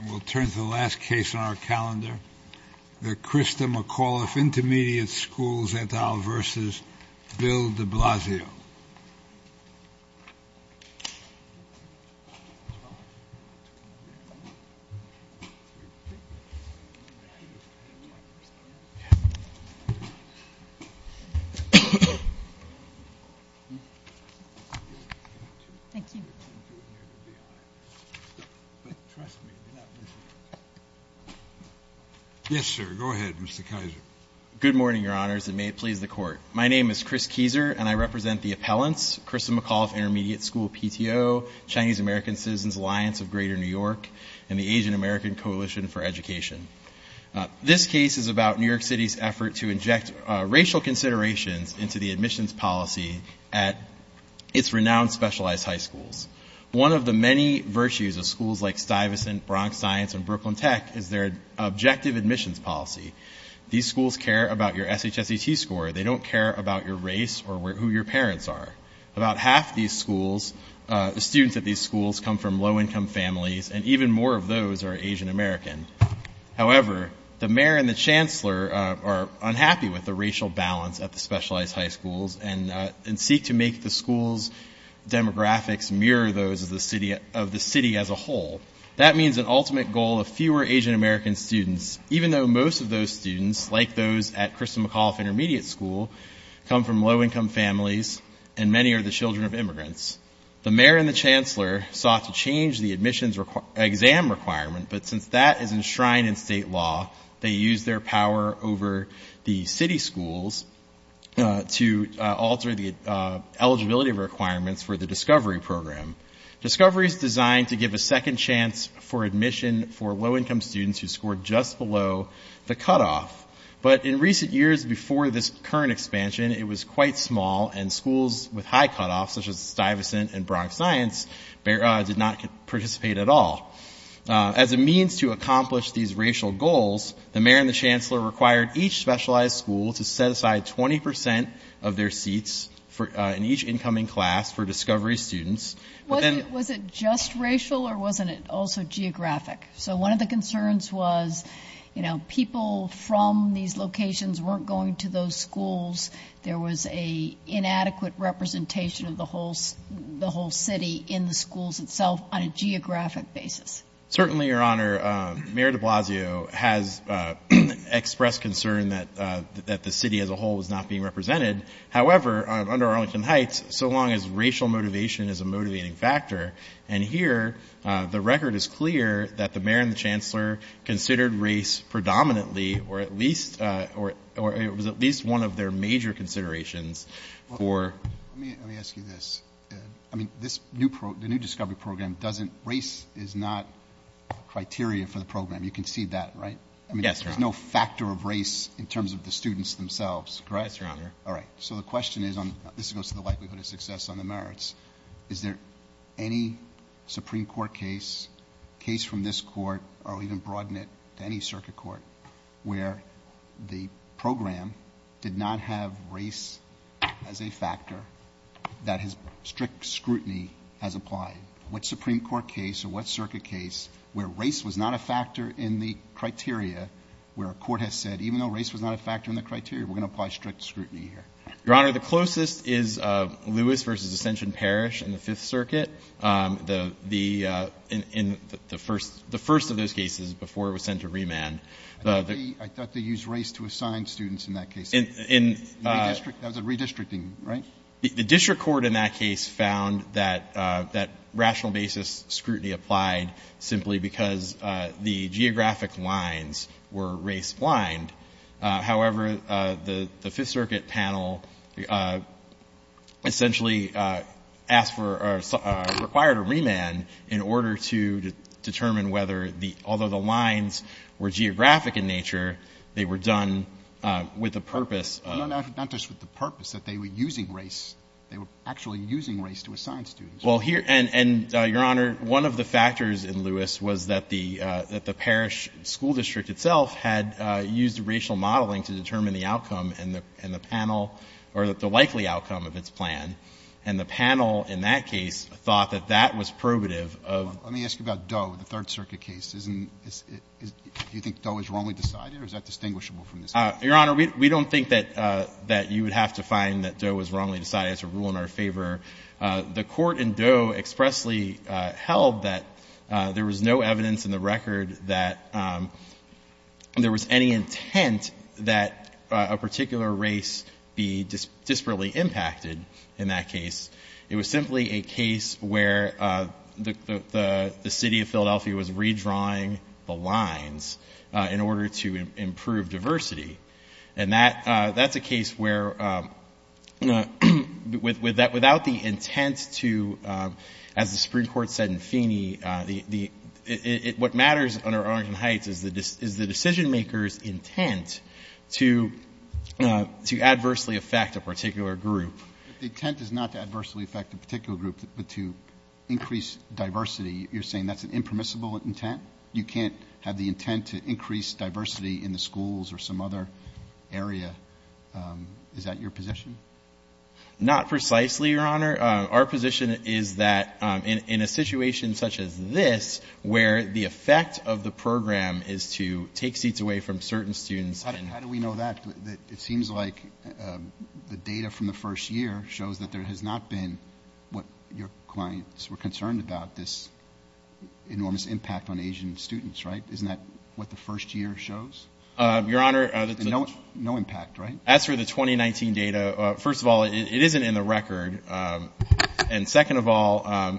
And we'll turn to the last case on our calendar, the Christa McAuliffe Intermediate School PTO, Chinese American Citizens Alliance of Greater New York, and the Asian American Coalition for Education. This case is about New York City's effort to inject racial considerations into the admissions policy at its renowned specialized high schools. One of the many virtues of schools like Stuyvesant and McAuliffe is that they have the ability to look at their objective admissions policy. These schools care about your SHSET score. They don't care about your race or who your parents are. About half the students at these schools come from low-income families, and even more of those are Asian American. However, the mayor and the chancellor are unhappy with the racial balance at the specialized high schools and seek to make the school's demographics mirror those of the city as a whole. That means an ultimate goal of fewer Asian American students, even though most of those students, like those at Christa McAuliffe Intermediate School, come from low-income families and many are the children of immigrants. The mayor and the chancellor sought to change the admissions exam requirement, but since that is enshrined in state law, they use their power over the city schools to alter the eligibility requirements for the Discovery Program. Discovery is designed to give a second chance for admission for low-income students who scored just below the cutoff, but in recent years before this current expansion, it was quite small and schools with high cutoffs, such as Stuyvesant and Bronx Science, did not participate at all. As a means to accomplish these racial goals, the mayor and the chancellor required each specialized school to set aside 20% of their seats in each incoming class for Discovery students. Was it just racial or wasn't it also geographic? So one of the concerns was, you know, people from these locations weren't going to those schools. There was an inadequate representation of the whole city in the schools itself on a geographic basis. Certainly, Your Honor, Mayor de Blasio has expressed concern that the city as a whole was not being represented. However, under Arlington Heights, so long as racial motivation is a motivating factor, and here the record is clear that the mayor and the chancellor considered race predominantly or it was at least one of their major considerations for. Let me ask you this. I mean, the new Discovery program doesn't race is not criteria for the program. You can see that, right? Yes, Your Honor. I mean, there's no factor of race in terms of the students themselves, correct? Yes, Your Honor. All right. So the question is, this goes to the likelihood of success on the merits. Is there any Supreme Court case, case from this court, or even broaden it to any circuit court, where the program did not have race as a factor that has strict scrutiny has applied? What Supreme Court case or what circuit case where race was not a factor in the criteria, where a court has said, even though race was not a factor in the criteria, we're going to apply strict scrutiny here? Your Honor, the closest is Lewis v. Ascension Parish in the Fifth Circuit, the first of those cases before it was sent to remand. I thought they used race to assign students in that case. That was a redistricting, right? The district court in that case found that rational basis scrutiny applied simply because the geographic lines were race-blind. However, the Fifth Circuit panel essentially asked for or required a remand in order to determine whether the — although the lines were geographic in nature, they were done with the purpose of — No, not just with the purpose, that they were using race. They were actually using race to assign students. Well, here — and, Your Honor, one of the factors in Lewis was that the parish school district itself had used racial modeling to determine the outcome and the panel — or the likely outcome of its plan. And the panel in that case thought that that was probative of — Let me ask you about Doe, the Third Circuit case. Isn't — do you think Doe was wrongly decided, or is that distinguishable from this case? Your Honor, we don't think that you would have to find that Doe was wrongly decided. That's a rule in our favor. The court in Doe expressly held that there was no evidence in the record that there was any intent that a particular race be disparately impacted in that case. It was simply a case where the city of Philadelphia was redrawing the lines in order to improve diversity. And that's a case where without the intent to — as the Supreme Court said in Feeney, what matters under Arlington Heights is the decision-maker's intent to adversely affect a particular group. But the intent is not to adversely affect a particular group, but to increase diversity. You're saying that's an impermissible intent? You can't have the intent to increase diversity in the schools or some other area? Is that your position? Not precisely, Your Honor. Our position is that in a situation such as this, where the effect of the program is to take seats away from certain students and — How do we know that? It seems like the data from the first year shows that there has not been what your clients were concerned about, this enormous impact on Asian students, right? Isn't that what the first year shows? Your Honor — No impact, right? As for the 2019 data, first of all, it isn't in the record. And second of all,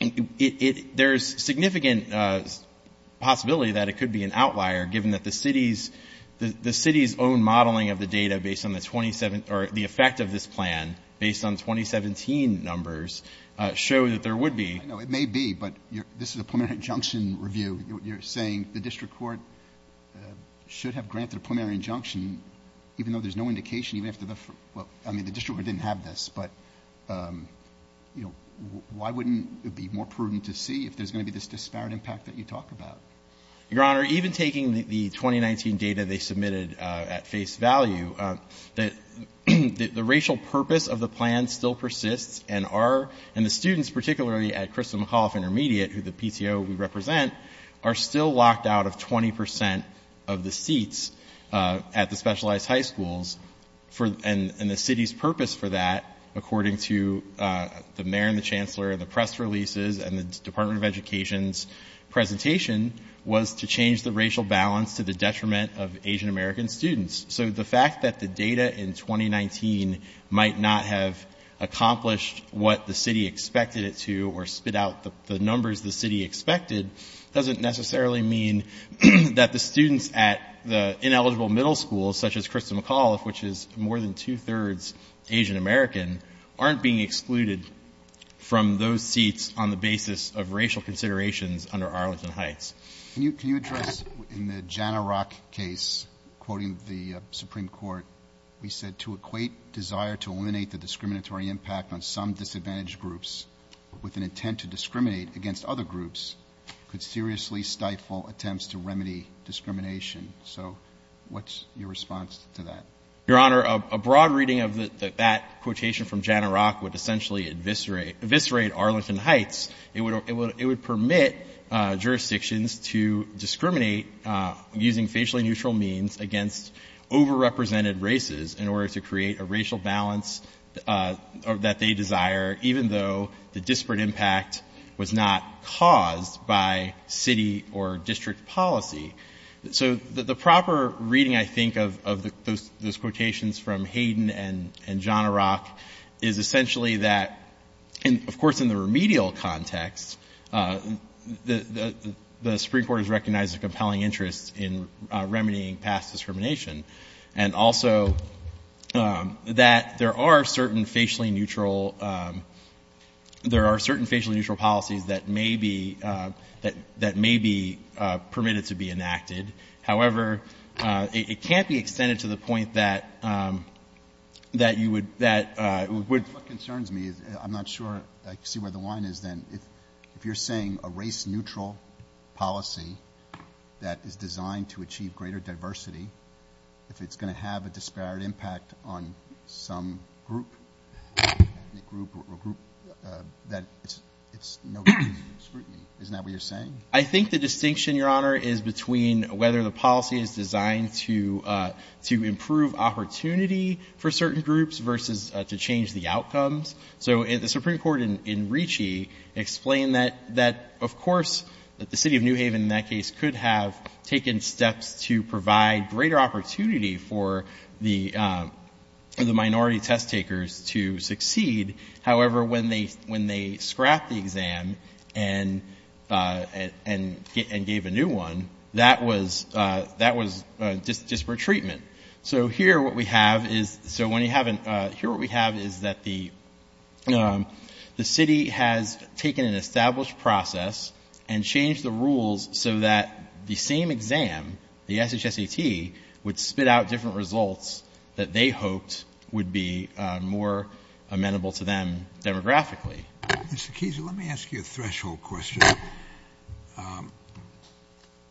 there's significant possibility that it could be an outlier, given that the city's own modeling of the data based on the effect of this plan, based on 2017 numbers, show that there would be — I know it may be, but this is a preliminary injunction review. You're saying the district court should have granted a preliminary injunction, even though there's no indication, even if the — I mean, the district court didn't have this, but, you know, why wouldn't it be more prudent to see if there's going to be this disparate impact that you talk about? Your Honor, even taking the 2019 data they submitted at face value, the racial purpose of the plan still persists and our — and the students, particularly at Crystal McAuliffe Intermediate, who the PTO we represent, are still locked out of 20 percent of the seats at the specialized high schools. And the city's purpose for that, according to the mayor and the chancellor and the press releases and the Department of Education's presentation, was to change the racial balance to the detriment of Asian-American students. So the fact that the data in 2019 might not have accomplished what the city expected it to or spit out the numbers the city expected, doesn't necessarily mean that the students at the ineligible middle schools, such as Crystal McAuliffe, which is more than two-thirds Asian-American, aren't being excluded from those seats on the basis of racial considerations under Arlington Heights. Can you address, in the Jana Rock case, quoting the Supreme Court, we said, to equate desire to eliminate the discriminatory impact on some disadvantaged groups with an intent to discriminate against other groups could seriously stifle attempts to remedy discrimination. So what's your response to that? Your Honor, a broad reading of that quotation from Jana Rock would essentially eviscerate Arlington Heights. It would permit jurisdictions to discriminate using facially neutral means against overrepresented races in order to create a racial balance that they desire, even though the disparate impact was not caused by city or district policy. So the proper reading, I think, of those quotations from Hayden and Jana Rock is essentially that, of course, in the remedial context, the Supreme Court has recognized a compelling interest in remedying past discrimination and also that there are certain facially neutral policies that may be permitted to be enacted. However, it can't be extended to the point that you would — What concerns me, I'm not sure I see where the line is then. If you're saying a race-neutral policy that is designed to achieve greater diversity, if it's going to have a disparate impact on some group, ethnic group or group, that it's no use in scrutiny. Isn't that what you're saying? I think the distinction, Your Honor, is between whether the policy is designed to improve opportunity for certain groups versus to change the outcomes. So the Supreme Court in Ricci explained that, of course, that the city of New Haven in that case could have taken steps to provide greater opportunity for the minority test takers to succeed. However, when they scrapped the exam and gave a new one, that was disparate treatment. So here what we have is that the city has taken an established process and changed the rules so that the same exam, the SHSAT, would spit out different results that they hoped would be more amenable to them demographically. Mr. Keese, let me ask you a threshold question.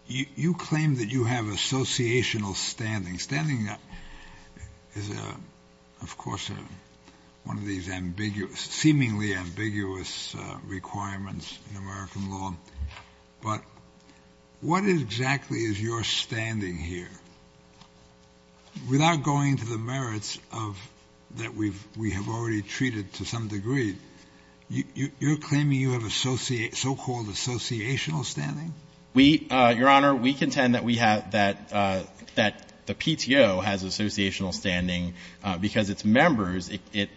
You claim that you have associational standing. Standing is, of course, one of these ambiguous, seemingly ambiguous requirements in American law. But what exactly is your standing here? Without going to the merits of that we have already treated to some degree, you're claiming you have so-called associational standing? We, Your Honor, we contend that we have, that the PTO has associational standing because its members,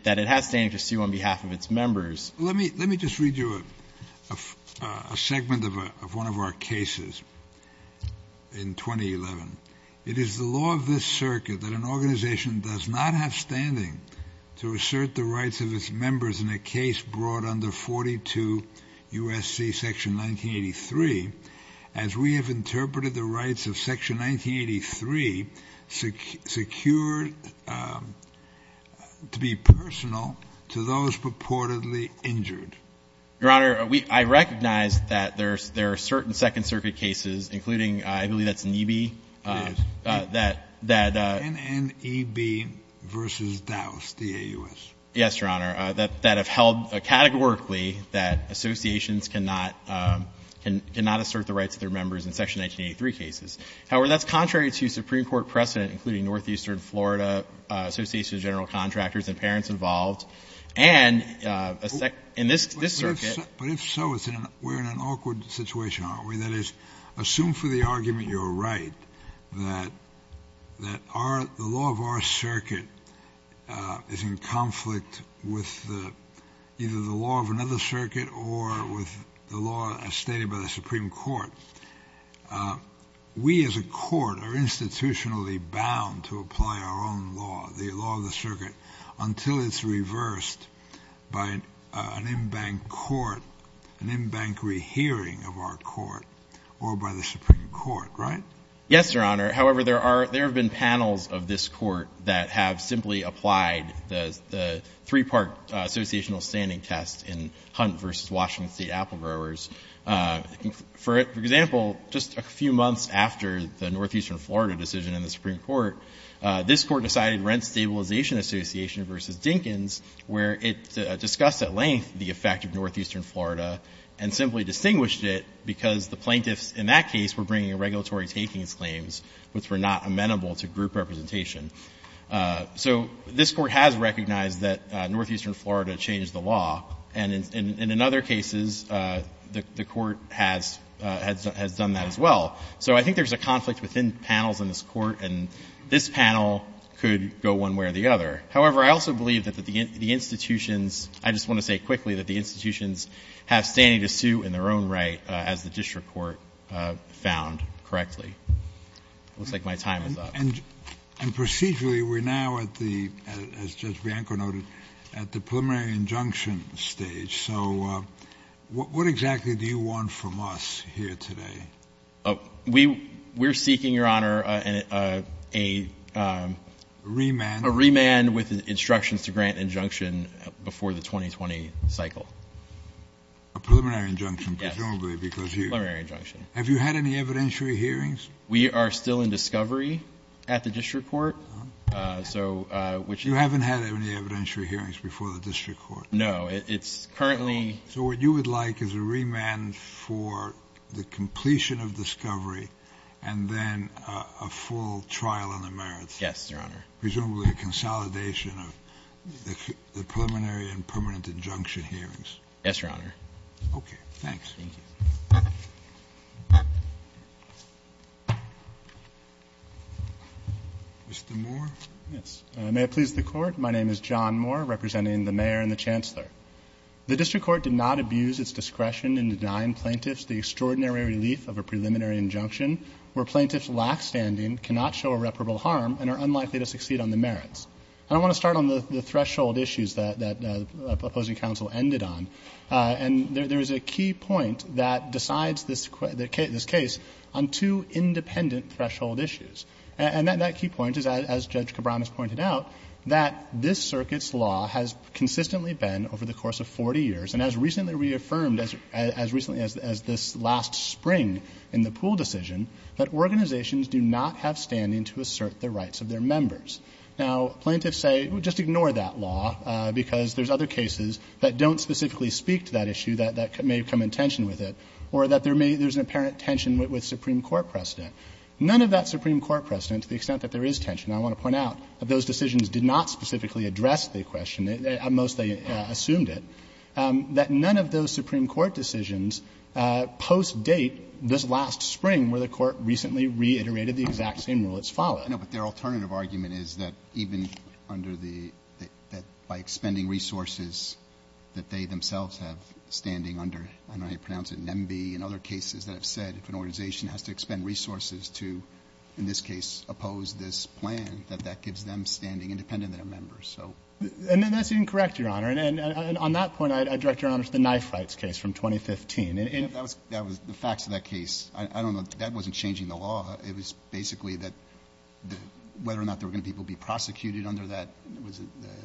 that it has standing to sue on behalf of its members. Let me just read you a segment of one of our cases in 2011. It is the law of this circuit that an organization does not have standing to assert the rights of its members in a case brought under 42 U.S.C. Section 1983 as we have interpreted the rights of Section 1983 secured to be personal to those purportedly injured. Your Honor, I recognize that there are certain Second Circuit cases, including I believe that's NEB. Yes. That, that. NNEB v. Dowse, D-A-U-S. Yes, Your Honor. That have held categorically that associations cannot, cannot assert the rights of their members in Section 1983 cases. However, that's contrary to Supreme Court precedent, including Northeastern Florida Association of General Contractors and parents involved. And in this circuit. But if so, we're in an awkward situation, aren't we? That is, assume for the argument you're right that, that our, the law of our circuit is in conflict with either the law of another circuit or with the law as stated by the Supreme Court. We as a court are institutionally bound to apply our own law, the law of the circuit, until it's reversed by an in-bank court, an in-bank rehearing of our court or by the Supreme Court. Right? Yes, Your Honor. However, there are, there have been panels of this court that have simply applied the, the three-part associational standing test in Hunt v. Washington State Apple Growers. For example, just a few months after the Northeastern Florida decision in the Supreme Court, this court decided Rent Stabilization Association v. Dinkins, where it discussed at length the effect of Northeastern Florida and simply distinguished it because the plaintiffs in that case were bringing regulatory takings claims which were not amenable to group representation. So this court has recognized that Northeastern Florida changed the law. And in, and in other cases, the, the court has, has, has done that as well. So I think there's a conflict within panels in this court, and this panel could go one way or the other. However, I also believe that the, the institutions, I just want to say quickly that the institutions have standing to sue in their own right as the district court found correctly. It looks like my time is up. And procedurally, we're now at the, as Judge Bianco noted, at the preliminary injunction stage. So what exactly do you want from us here today? Oh, we, we're seeking, Your Honor, a, a, a, a remand, a remand with instructions to grant injunction before the 2020 cycle. A preliminary injunction presumably because you, preliminary injunction. Have you had any evidentiary hearings? We are still in discovery at the district court. So, which you haven't had any evidentiary hearings before the district court? No, it's currently. So what you would like is a remand for the completion of discovery and then a full trial on the merits. Yes, Your Honor. Presumably a consolidation of the preliminary and permanent injunction hearings. Yes, Your Honor. Okay. Thanks. Thank you. Mr. Moore. Yes. May it please the Court. My name is John Moore, representing the Mayor and the Chancellor. The district court did not abuse its discretion in denying plaintiffs the extraordinary relief of a preliminary injunction where plaintiffs' lax standing cannot show irreparable harm and are unlikely to succeed on the merits. And I want to start on the, the threshold issues that, that the opposing counsel ended on. And there, there is a key point that decides this, this case on two independent threshold issues. And that, that key point is, as Judge Cabran has pointed out, that this circuit's law has consistently been, over the course of 40 years, and as recently reaffirmed as, as recently as, as this last spring in the Poole decision, that organizations do not have standing to assert the rights of their members. Now, plaintiffs say, well, just ignore that law because there's other cases that don't specifically speak to that issue that, that may come in tension with it, or that there may, there's an apparent tension with, with Supreme Court precedent. None of that Supreme Court precedent, to the extent that there is tension, I want to point out, that those decisions did not specifically address the question. At most, they assumed it. That none of those Supreme Court decisions post-date this last spring where the Court recently reiterated the exact same rule that's followed. Roberts. No, but their alternative argument is that even under the, that by expending resources that they themselves have standing under, and I pronounce it NEMBE, and other cases that have said if an organization has to expend resources to, in this case, oppose this plan, that that gives them standing independent of their members. So. And that's incorrect, Your Honor. And on that point, I direct Your Honor to the knife rights case from 2015. And that was, that was the facts of that case. I don't know. That wasn't changing the law. It was basically that the, whether or not there were going to be people prosecuted under that was the.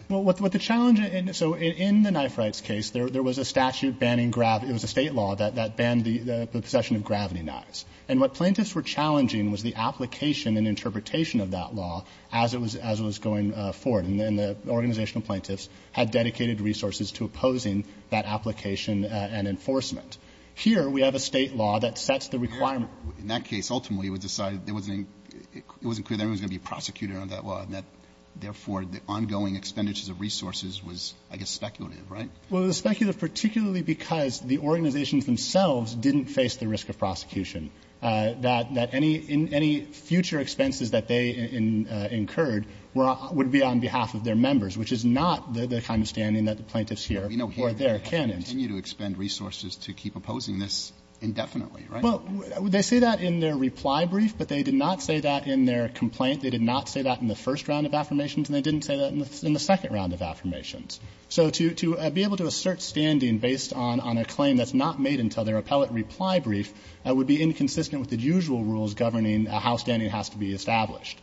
Well, what the challenge in, so in the knife rights case, there was a statute banning, it was a State law that banned the possession of gravity knives. And what plaintiffs were challenging was the application and interpretation of that law as it was going forward. And the organizational plaintiffs had dedicated resources to opposing that application and enforcement. Here, we have a State law that sets the requirement. In that case, ultimately, it was decided there wasn't, it wasn't clear that everyone was going to be prosecuted under that law, and that, therefore, the ongoing expenditures of resources was, I guess, speculative, right? Well, it was speculative particularly because the organizations themselves didn't really face the risk of prosecution, that any future expenses that they incurred would be on behalf of their members, which is not the kind of standing that the plaintiffs here or there can endure. But we know here they continue to expend resources to keep opposing this indefinitely, right? Well, they say that in their reply brief, but they did not say that in their complaint. They did not say that in the first round of affirmations, and they didn't say that in the second round of affirmations. So to be able to assert standing based on a claim that's not made until their appellate reply brief would be inconsistent with the usual rules governing how standing has to be established.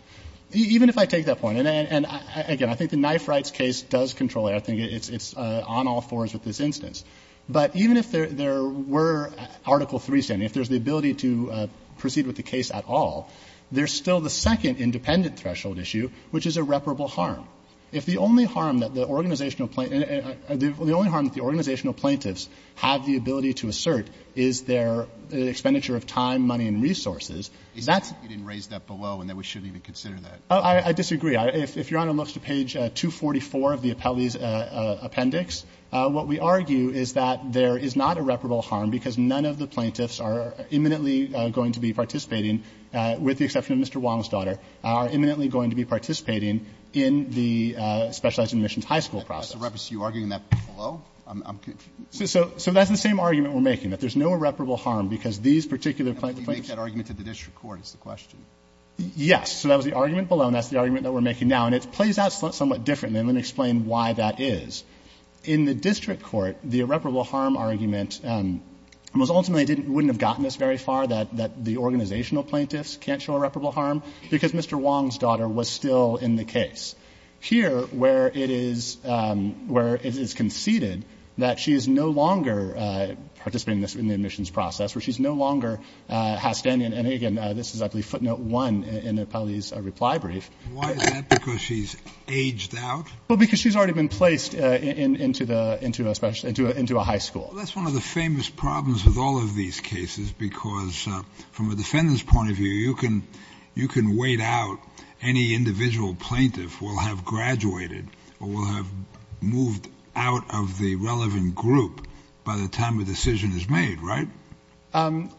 Even if I take that point, and again, I think the Knife Rights case does control it. I think it's on all fours with this instance. But even if there were Article III standing, if there's the ability to proceed with the case at all, there's still the second independent threshold issue, which is irreparable harm. If the only harm that the organizational plaintiffs have the ability to assert is their expenditure of time, money, and resources, that's. Roberts. You didn't raise that below, and that we shouldn't even consider that. I disagree. If Your Honor looks to page 244 of the appellee's appendix, what we argue is that there is not irreparable harm because none of the plaintiffs are imminently going to be participating, with the exception of Mr. Wong's daughter, are imminently going to be participating in the specialized admissions high school process. Are you arguing that below? I'm confused. So that's the same argument we're making, that there's no irreparable harm because these particular plaintiffs. You make that argument at the district court, is the question. Yes. So that was the argument below, and that's the argument that we're making now. And it plays out somewhat differently, and let me explain why that is. In the district court, the irreparable harm argument was ultimately wouldn't have gotten us very far, that the organizational plaintiffs can't show irreparable harm, because Mr. Wong's daughter was still in the case. Here, where it is conceded that she is no longer participating in the admissions process, where she's no longer has standing, and again, this is I believe footnote one in the appellee's reply brief. Why is that? Because she's aged out? Because she's already been placed into a high school. That's one of the famous problems with all of these cases, because from a defendant's point of view, you can wait out any individual plaintiff who will have graduated or will have moved out of the relevant group by the time a decision is made, right?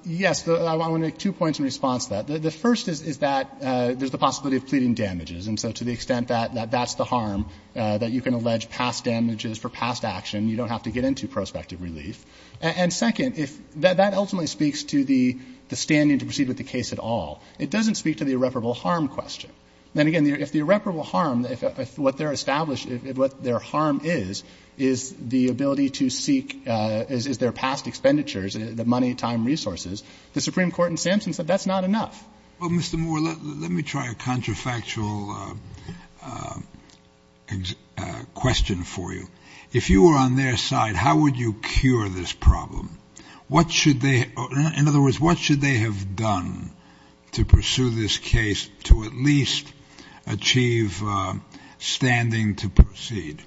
Yes. I want to make two points in response to that. The first is that there's the possibility of pleading damages, and so to the extent that that's the harm, that you can allege past damages for past action. You don't have to get into prospective relief. And second, if that ultimately speaks to the standing to proceed with the case at all, it doesn't speak to the irreparable harm question. Then again, if the irreparable harm, if what they're established, what their harm is, is the ability to seek, is their past expenditures, the money, time, resources, the Supreme Court in Sampson said that's not enough. Well, Mr. Moore, let me try a contrafactual question for you. If you were on their side, how would you cure this problem? What should they, in other words, what should they have done to pursue this case to at least achieve standing to proceed?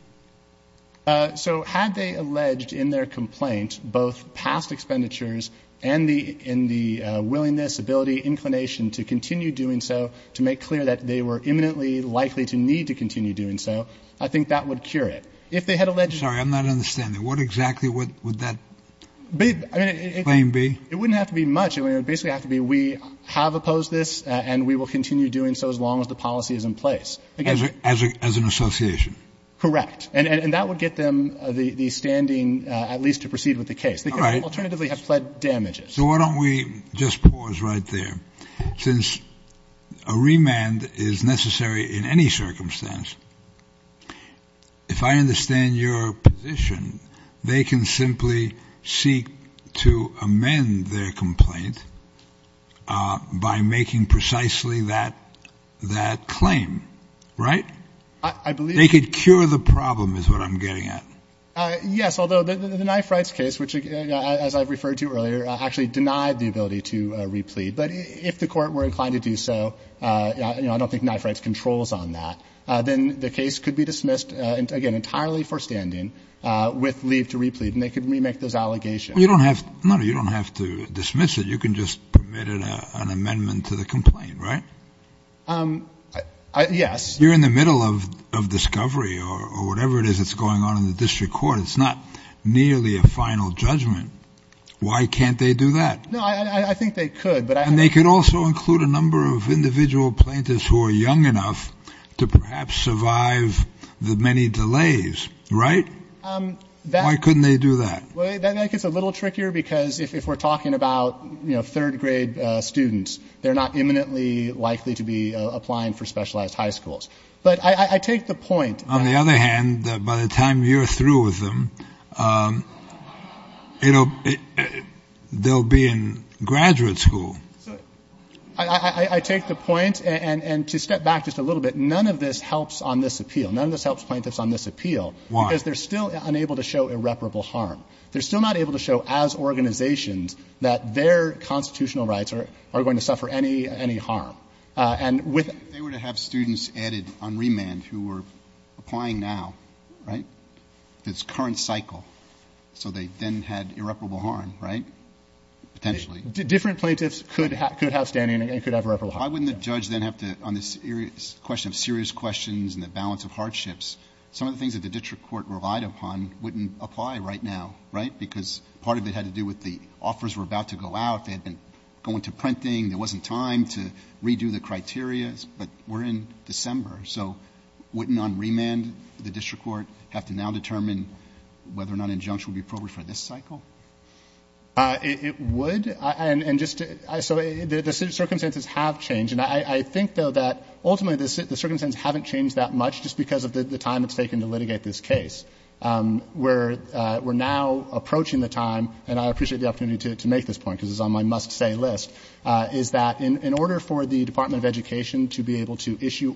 So had they alleged in their complaint both past expenditures and the willingness, ability, inclination to continue doing so, to make clear that they were imminently likely to need to continue doing so, I think that would cure it. Sorry, I'm not understanding. What exactly would that claim be? It wouldn't have to be much. It would basically have to be we have opposed this and we will continue doing so as long as the policy is in place. As an association? Correct. And that would get them the standing at least to proceed with the case. They could alternatively have pled damages. So why don't we just pause right there. Since a remand is necessary in any circumstance, if I understand your position, they can simply seek to amend their complaint by making precisely that claim, right? I believe They could cure the problem is what I'm getting at. Yes, although the knife rights case, which as I've referred to earlier, actually denied the ability to replete. But if the court were inclined to do so, I don't think knife rights controls on that. Then the case could be dismissed, again, entirely for standing with leave to replete. And they could remake those allegations. You don't have to dismiss it. You can just permit an amendment to the complaint, right? Yes. You're in the middle of discovery or whatever it is that's going on in the district court. It's not nearly a final judgment. Why can't they do that? No, I think they could. And they could also include a number of individual plaintiffs who are young enough to perhaps survive the many delays, right? Why couldn't they do that? That makes it a little trickier because if we're talking about third grade students, they're not imminently likely to be applying for specialized high schools. But I take the point. On the other hand, by the time you're through with them, they'll be in graduate school. I take the point. And to step back just a little bit, none of this helps on this appeal. None of this helps plaintiffs on this appeal. Why? Because they're still unable to show irreparable harm. They're still not able to show as organizations that their constitutional rights are going to suffer any harm. They were to have students added on remand who were applying now, right? It's current cycle. So they then had irreparable harm, right? Potentially. Different plaintiffs could have standing and could have irreparable harm. Why wouldn't the judge then have to, on this question of serious questions and the balance of hardships, some of the things that the district court relied upon wouldn't apply right now, right? Because part of it had to do with the offers were about to go out. They had been going to printing. There wasn't time to redo the criteria. But we're in December. So wouldn't on remand the district court have to now determine whether or not an injunction would be appropriate for this cycle? It would. So the circumstances have changed. And I think, though, that ultimately the circumstances haven't changed that much just because of the time it's taken to litigate this case. We're now approaching the time, and I appreciate the opportunity to make this point because it's on my must-say list, is that in order for the Department of Education to be able to issue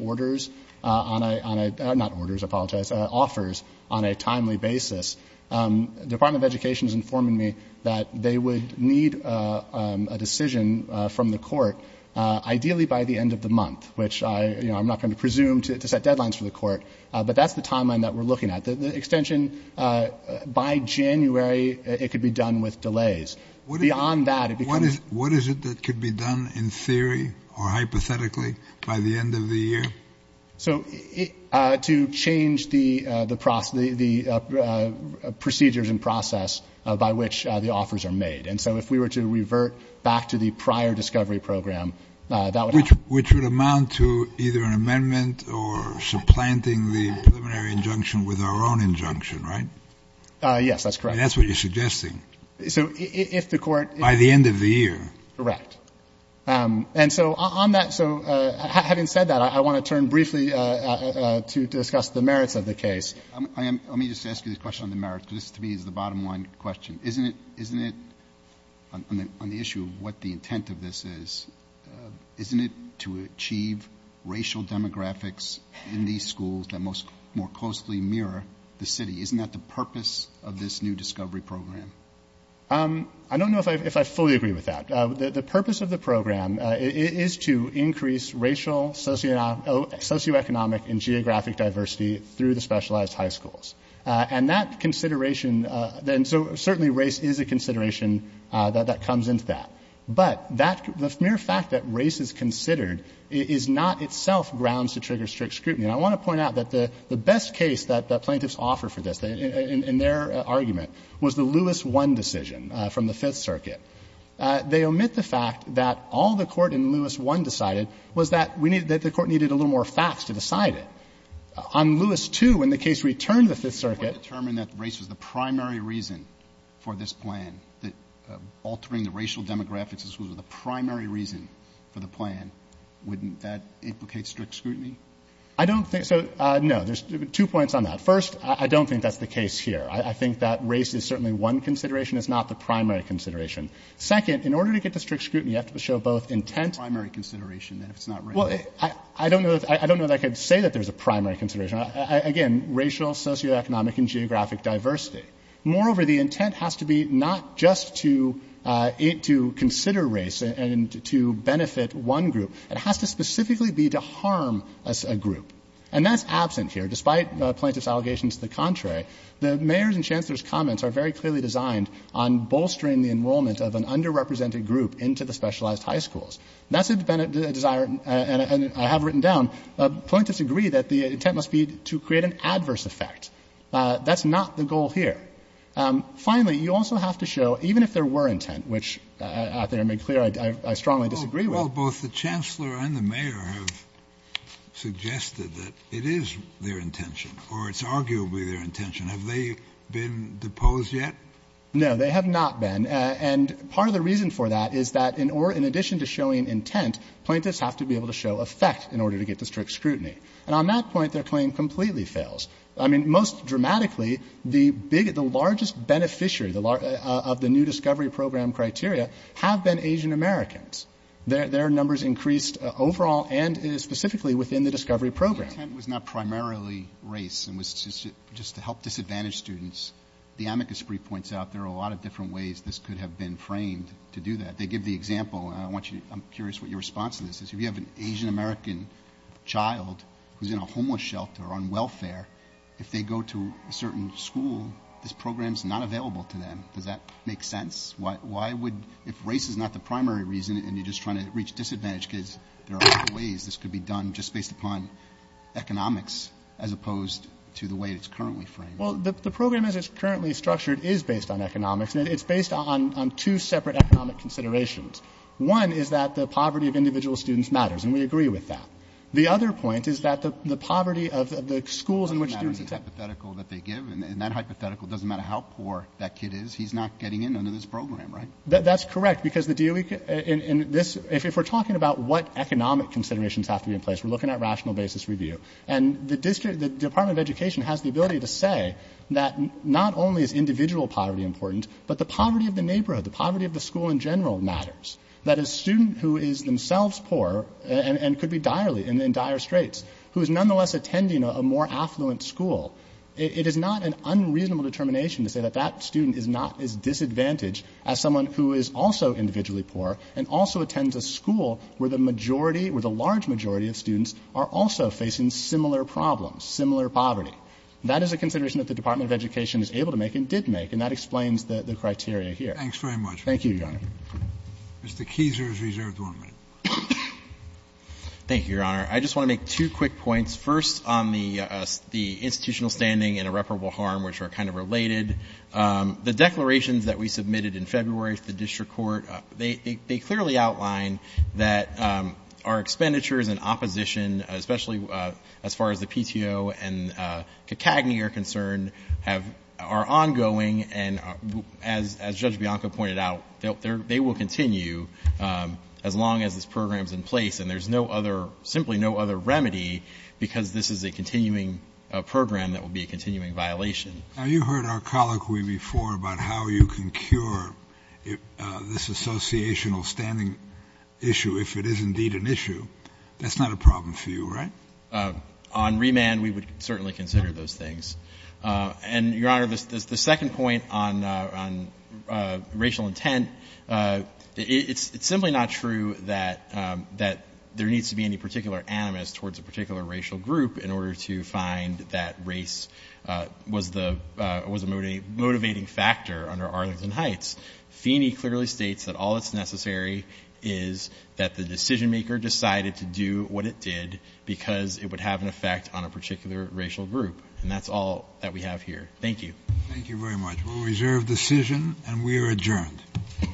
offers on a timely basis, the Department of Education is informing me that they would need a decision from the court ideally by the end of the month, which I'm not going to presume to set deadlines for the court, but that's the timeline that we're looking at. The extension by January, it could be done with delays. What is it that could be done in theory or hypothetically by the end of the year? So to change the procedures and process by which the offers are made. And so if we were to revert back to the prior discovery program, that would happen. Which would amount to either an amendment or supplanting the preliminary injunction with our own injunction, right? Yes, that's correct. And that's what you're suggesting. So if the court... By the end of the year. Correct. And so on that, so having said that, I want to turn briefly to discuss the merits of the case. Let me just ask you this question on the merits, because this, to me, is the bottom line question. Isn't it, on the issue of what the intent of this is, isn't it to achieve racial demographics in these schools that more closely mirror the city? Isn't that the purpose of this new discovery program? I don't know if I fully agree with that. The purpose of the program is to increase racial, socioeconomic, and geographic diversity through the specialized high schools. And that consideration, and so certainly race is a consideration that comes into that. But the mere fact that race is considered is not itself grounds to trigger strict scrutiny. And I want to point out that the best case that plaintiffs offer for this, in their argument, was the Lewis I decision from the Fifth Circuit. They omit the fact that all the court in Lewis I decided was that we needed, that the court needed a little more facts to decide it. On Lewis II, when the case returned to the Fifth Circuit... If we want to determine that race was the primary reason for this plan, that altering the racial demographics in schools was the primary reason for the plan, wouldn't that implicate strict scrutiny? I don't think so. No, there's two points on that. First, I don't think that's the case here. I think that race is certainly one consideration. It's not the primary consideration. Second, in order to get to strict scrutiny, you have to show both intent... The primary consideration, then, if it's not race. Well, I don't know that I could say that there's a primary consideration. Again, racial, socioeconomic, and geographic diversity. Moreover, the intent has to be not just to consider race and to benefit one group. It has to specifically be to harm a group. And that's absent here, despite plaintiff's allegations to the contrary. The mayor's and chancellor's comments are very clearly designed on bolstering the enrollment of an underrepresented group into the specialized high schools. That's a desire, and I have written down, plaintiffs agree that the intent must be to create an adverse effect. That's not the goal here. Finally, you also have to show, even if there were intent, which I think I made clear I strongly disagree with... The chancellor and the mayor have suggested that it is their intention, or it's arguably their intention. Have they been deposed yet? No, they have not been. And part of the reason for that is that, in addition to showing intent, plaintiffs have to be able to show effect in order to get to strict scrutiny. And on that point, their claim completely fails. I mean, most dramatically, the largest beneficiary of the new discovery program criteria have been Asian Americans. Their numbers increased overall and specifically within the discovery program. The intent was not primarily race. It was just to help disadvantaged students. The amicus brief points out there are a lot of different ways this could have been framed to do that. They give the example, and I'm curious what your response to this is. If you have an Asian American child who's in a homeless shelter on welfare, if they go to a certain school, this program's not available to them. Does that make sense? If race is not the primary reason, and you're just trying to reach disadvantaged kids, there are other ways this could be done just based upon economics, as opposed to the way it's currently framed. Well, the program as it's currently structured is based on economics, and it's based on two separate economic considerations. One is that the poverty of individual students matters, and we agree with that. The other point is that the poverty of the schools in which students accept... It doesn't matter in the hypothetical that they give. In that hypothetical, it doesn't matter how poor that kid is. He's not getting in under this program, right? That's correct, because the DOE... If we're talking about what economic considerations have to be in place, we're looking at rational basis review. And the Department of Education has the ability to say that not only is individual poverty important, but the poverty of the neighborhood, the poverty of the school in general matters. That a student who is themselves poor, and could be direly in dire straits, who is nonetheless attending a more affluent school, it is not an unreasonable determination to say that that student is not as disadvantaged as someone who is also individually poor and also attends a school where the majority, where the large majority of students are also facing similar problems, similar poverty. That is a consideration that the Department of Education is able to make and did make, and that explains the criteria here. Thanks very much. Thank you, Your Honor. Mr. Keiser is reserved one minute. Thank you, Your Honor. I just want to make two quick points. First, on the institutional standing and irreparable harm, which are kind of related. The declarations that we submitted in February to the district court, they clearly outline that our expenditures and opposition, especially as far as the PTO and CACAGNY are concerned, are ongoing. And as Judge Bianco pointed out, they will continue as long as this program is in place. And there is no other, simply no other remedy, because this is a continuing program that will be a continuing violation. Now, you heard our colloquy before about how you can cure this associational standing issue if it is indeed an issue. That is not a problem for you, right? On remand, we would certainly consider those things. And, Your Honor, the second point on racial intent, it's simply not true that there needs to be any particular animus towards a particular racial group in order to find that race was a motivating factor under Arlington Heights. Feeney clearly states that all that's necessary is that the decision maker decided to do what it did because it would have an effect on a particular racial group. And that's all that we have here. Thank you. Thank you very much. We'll reserve decision, and we are adjourned. adjourned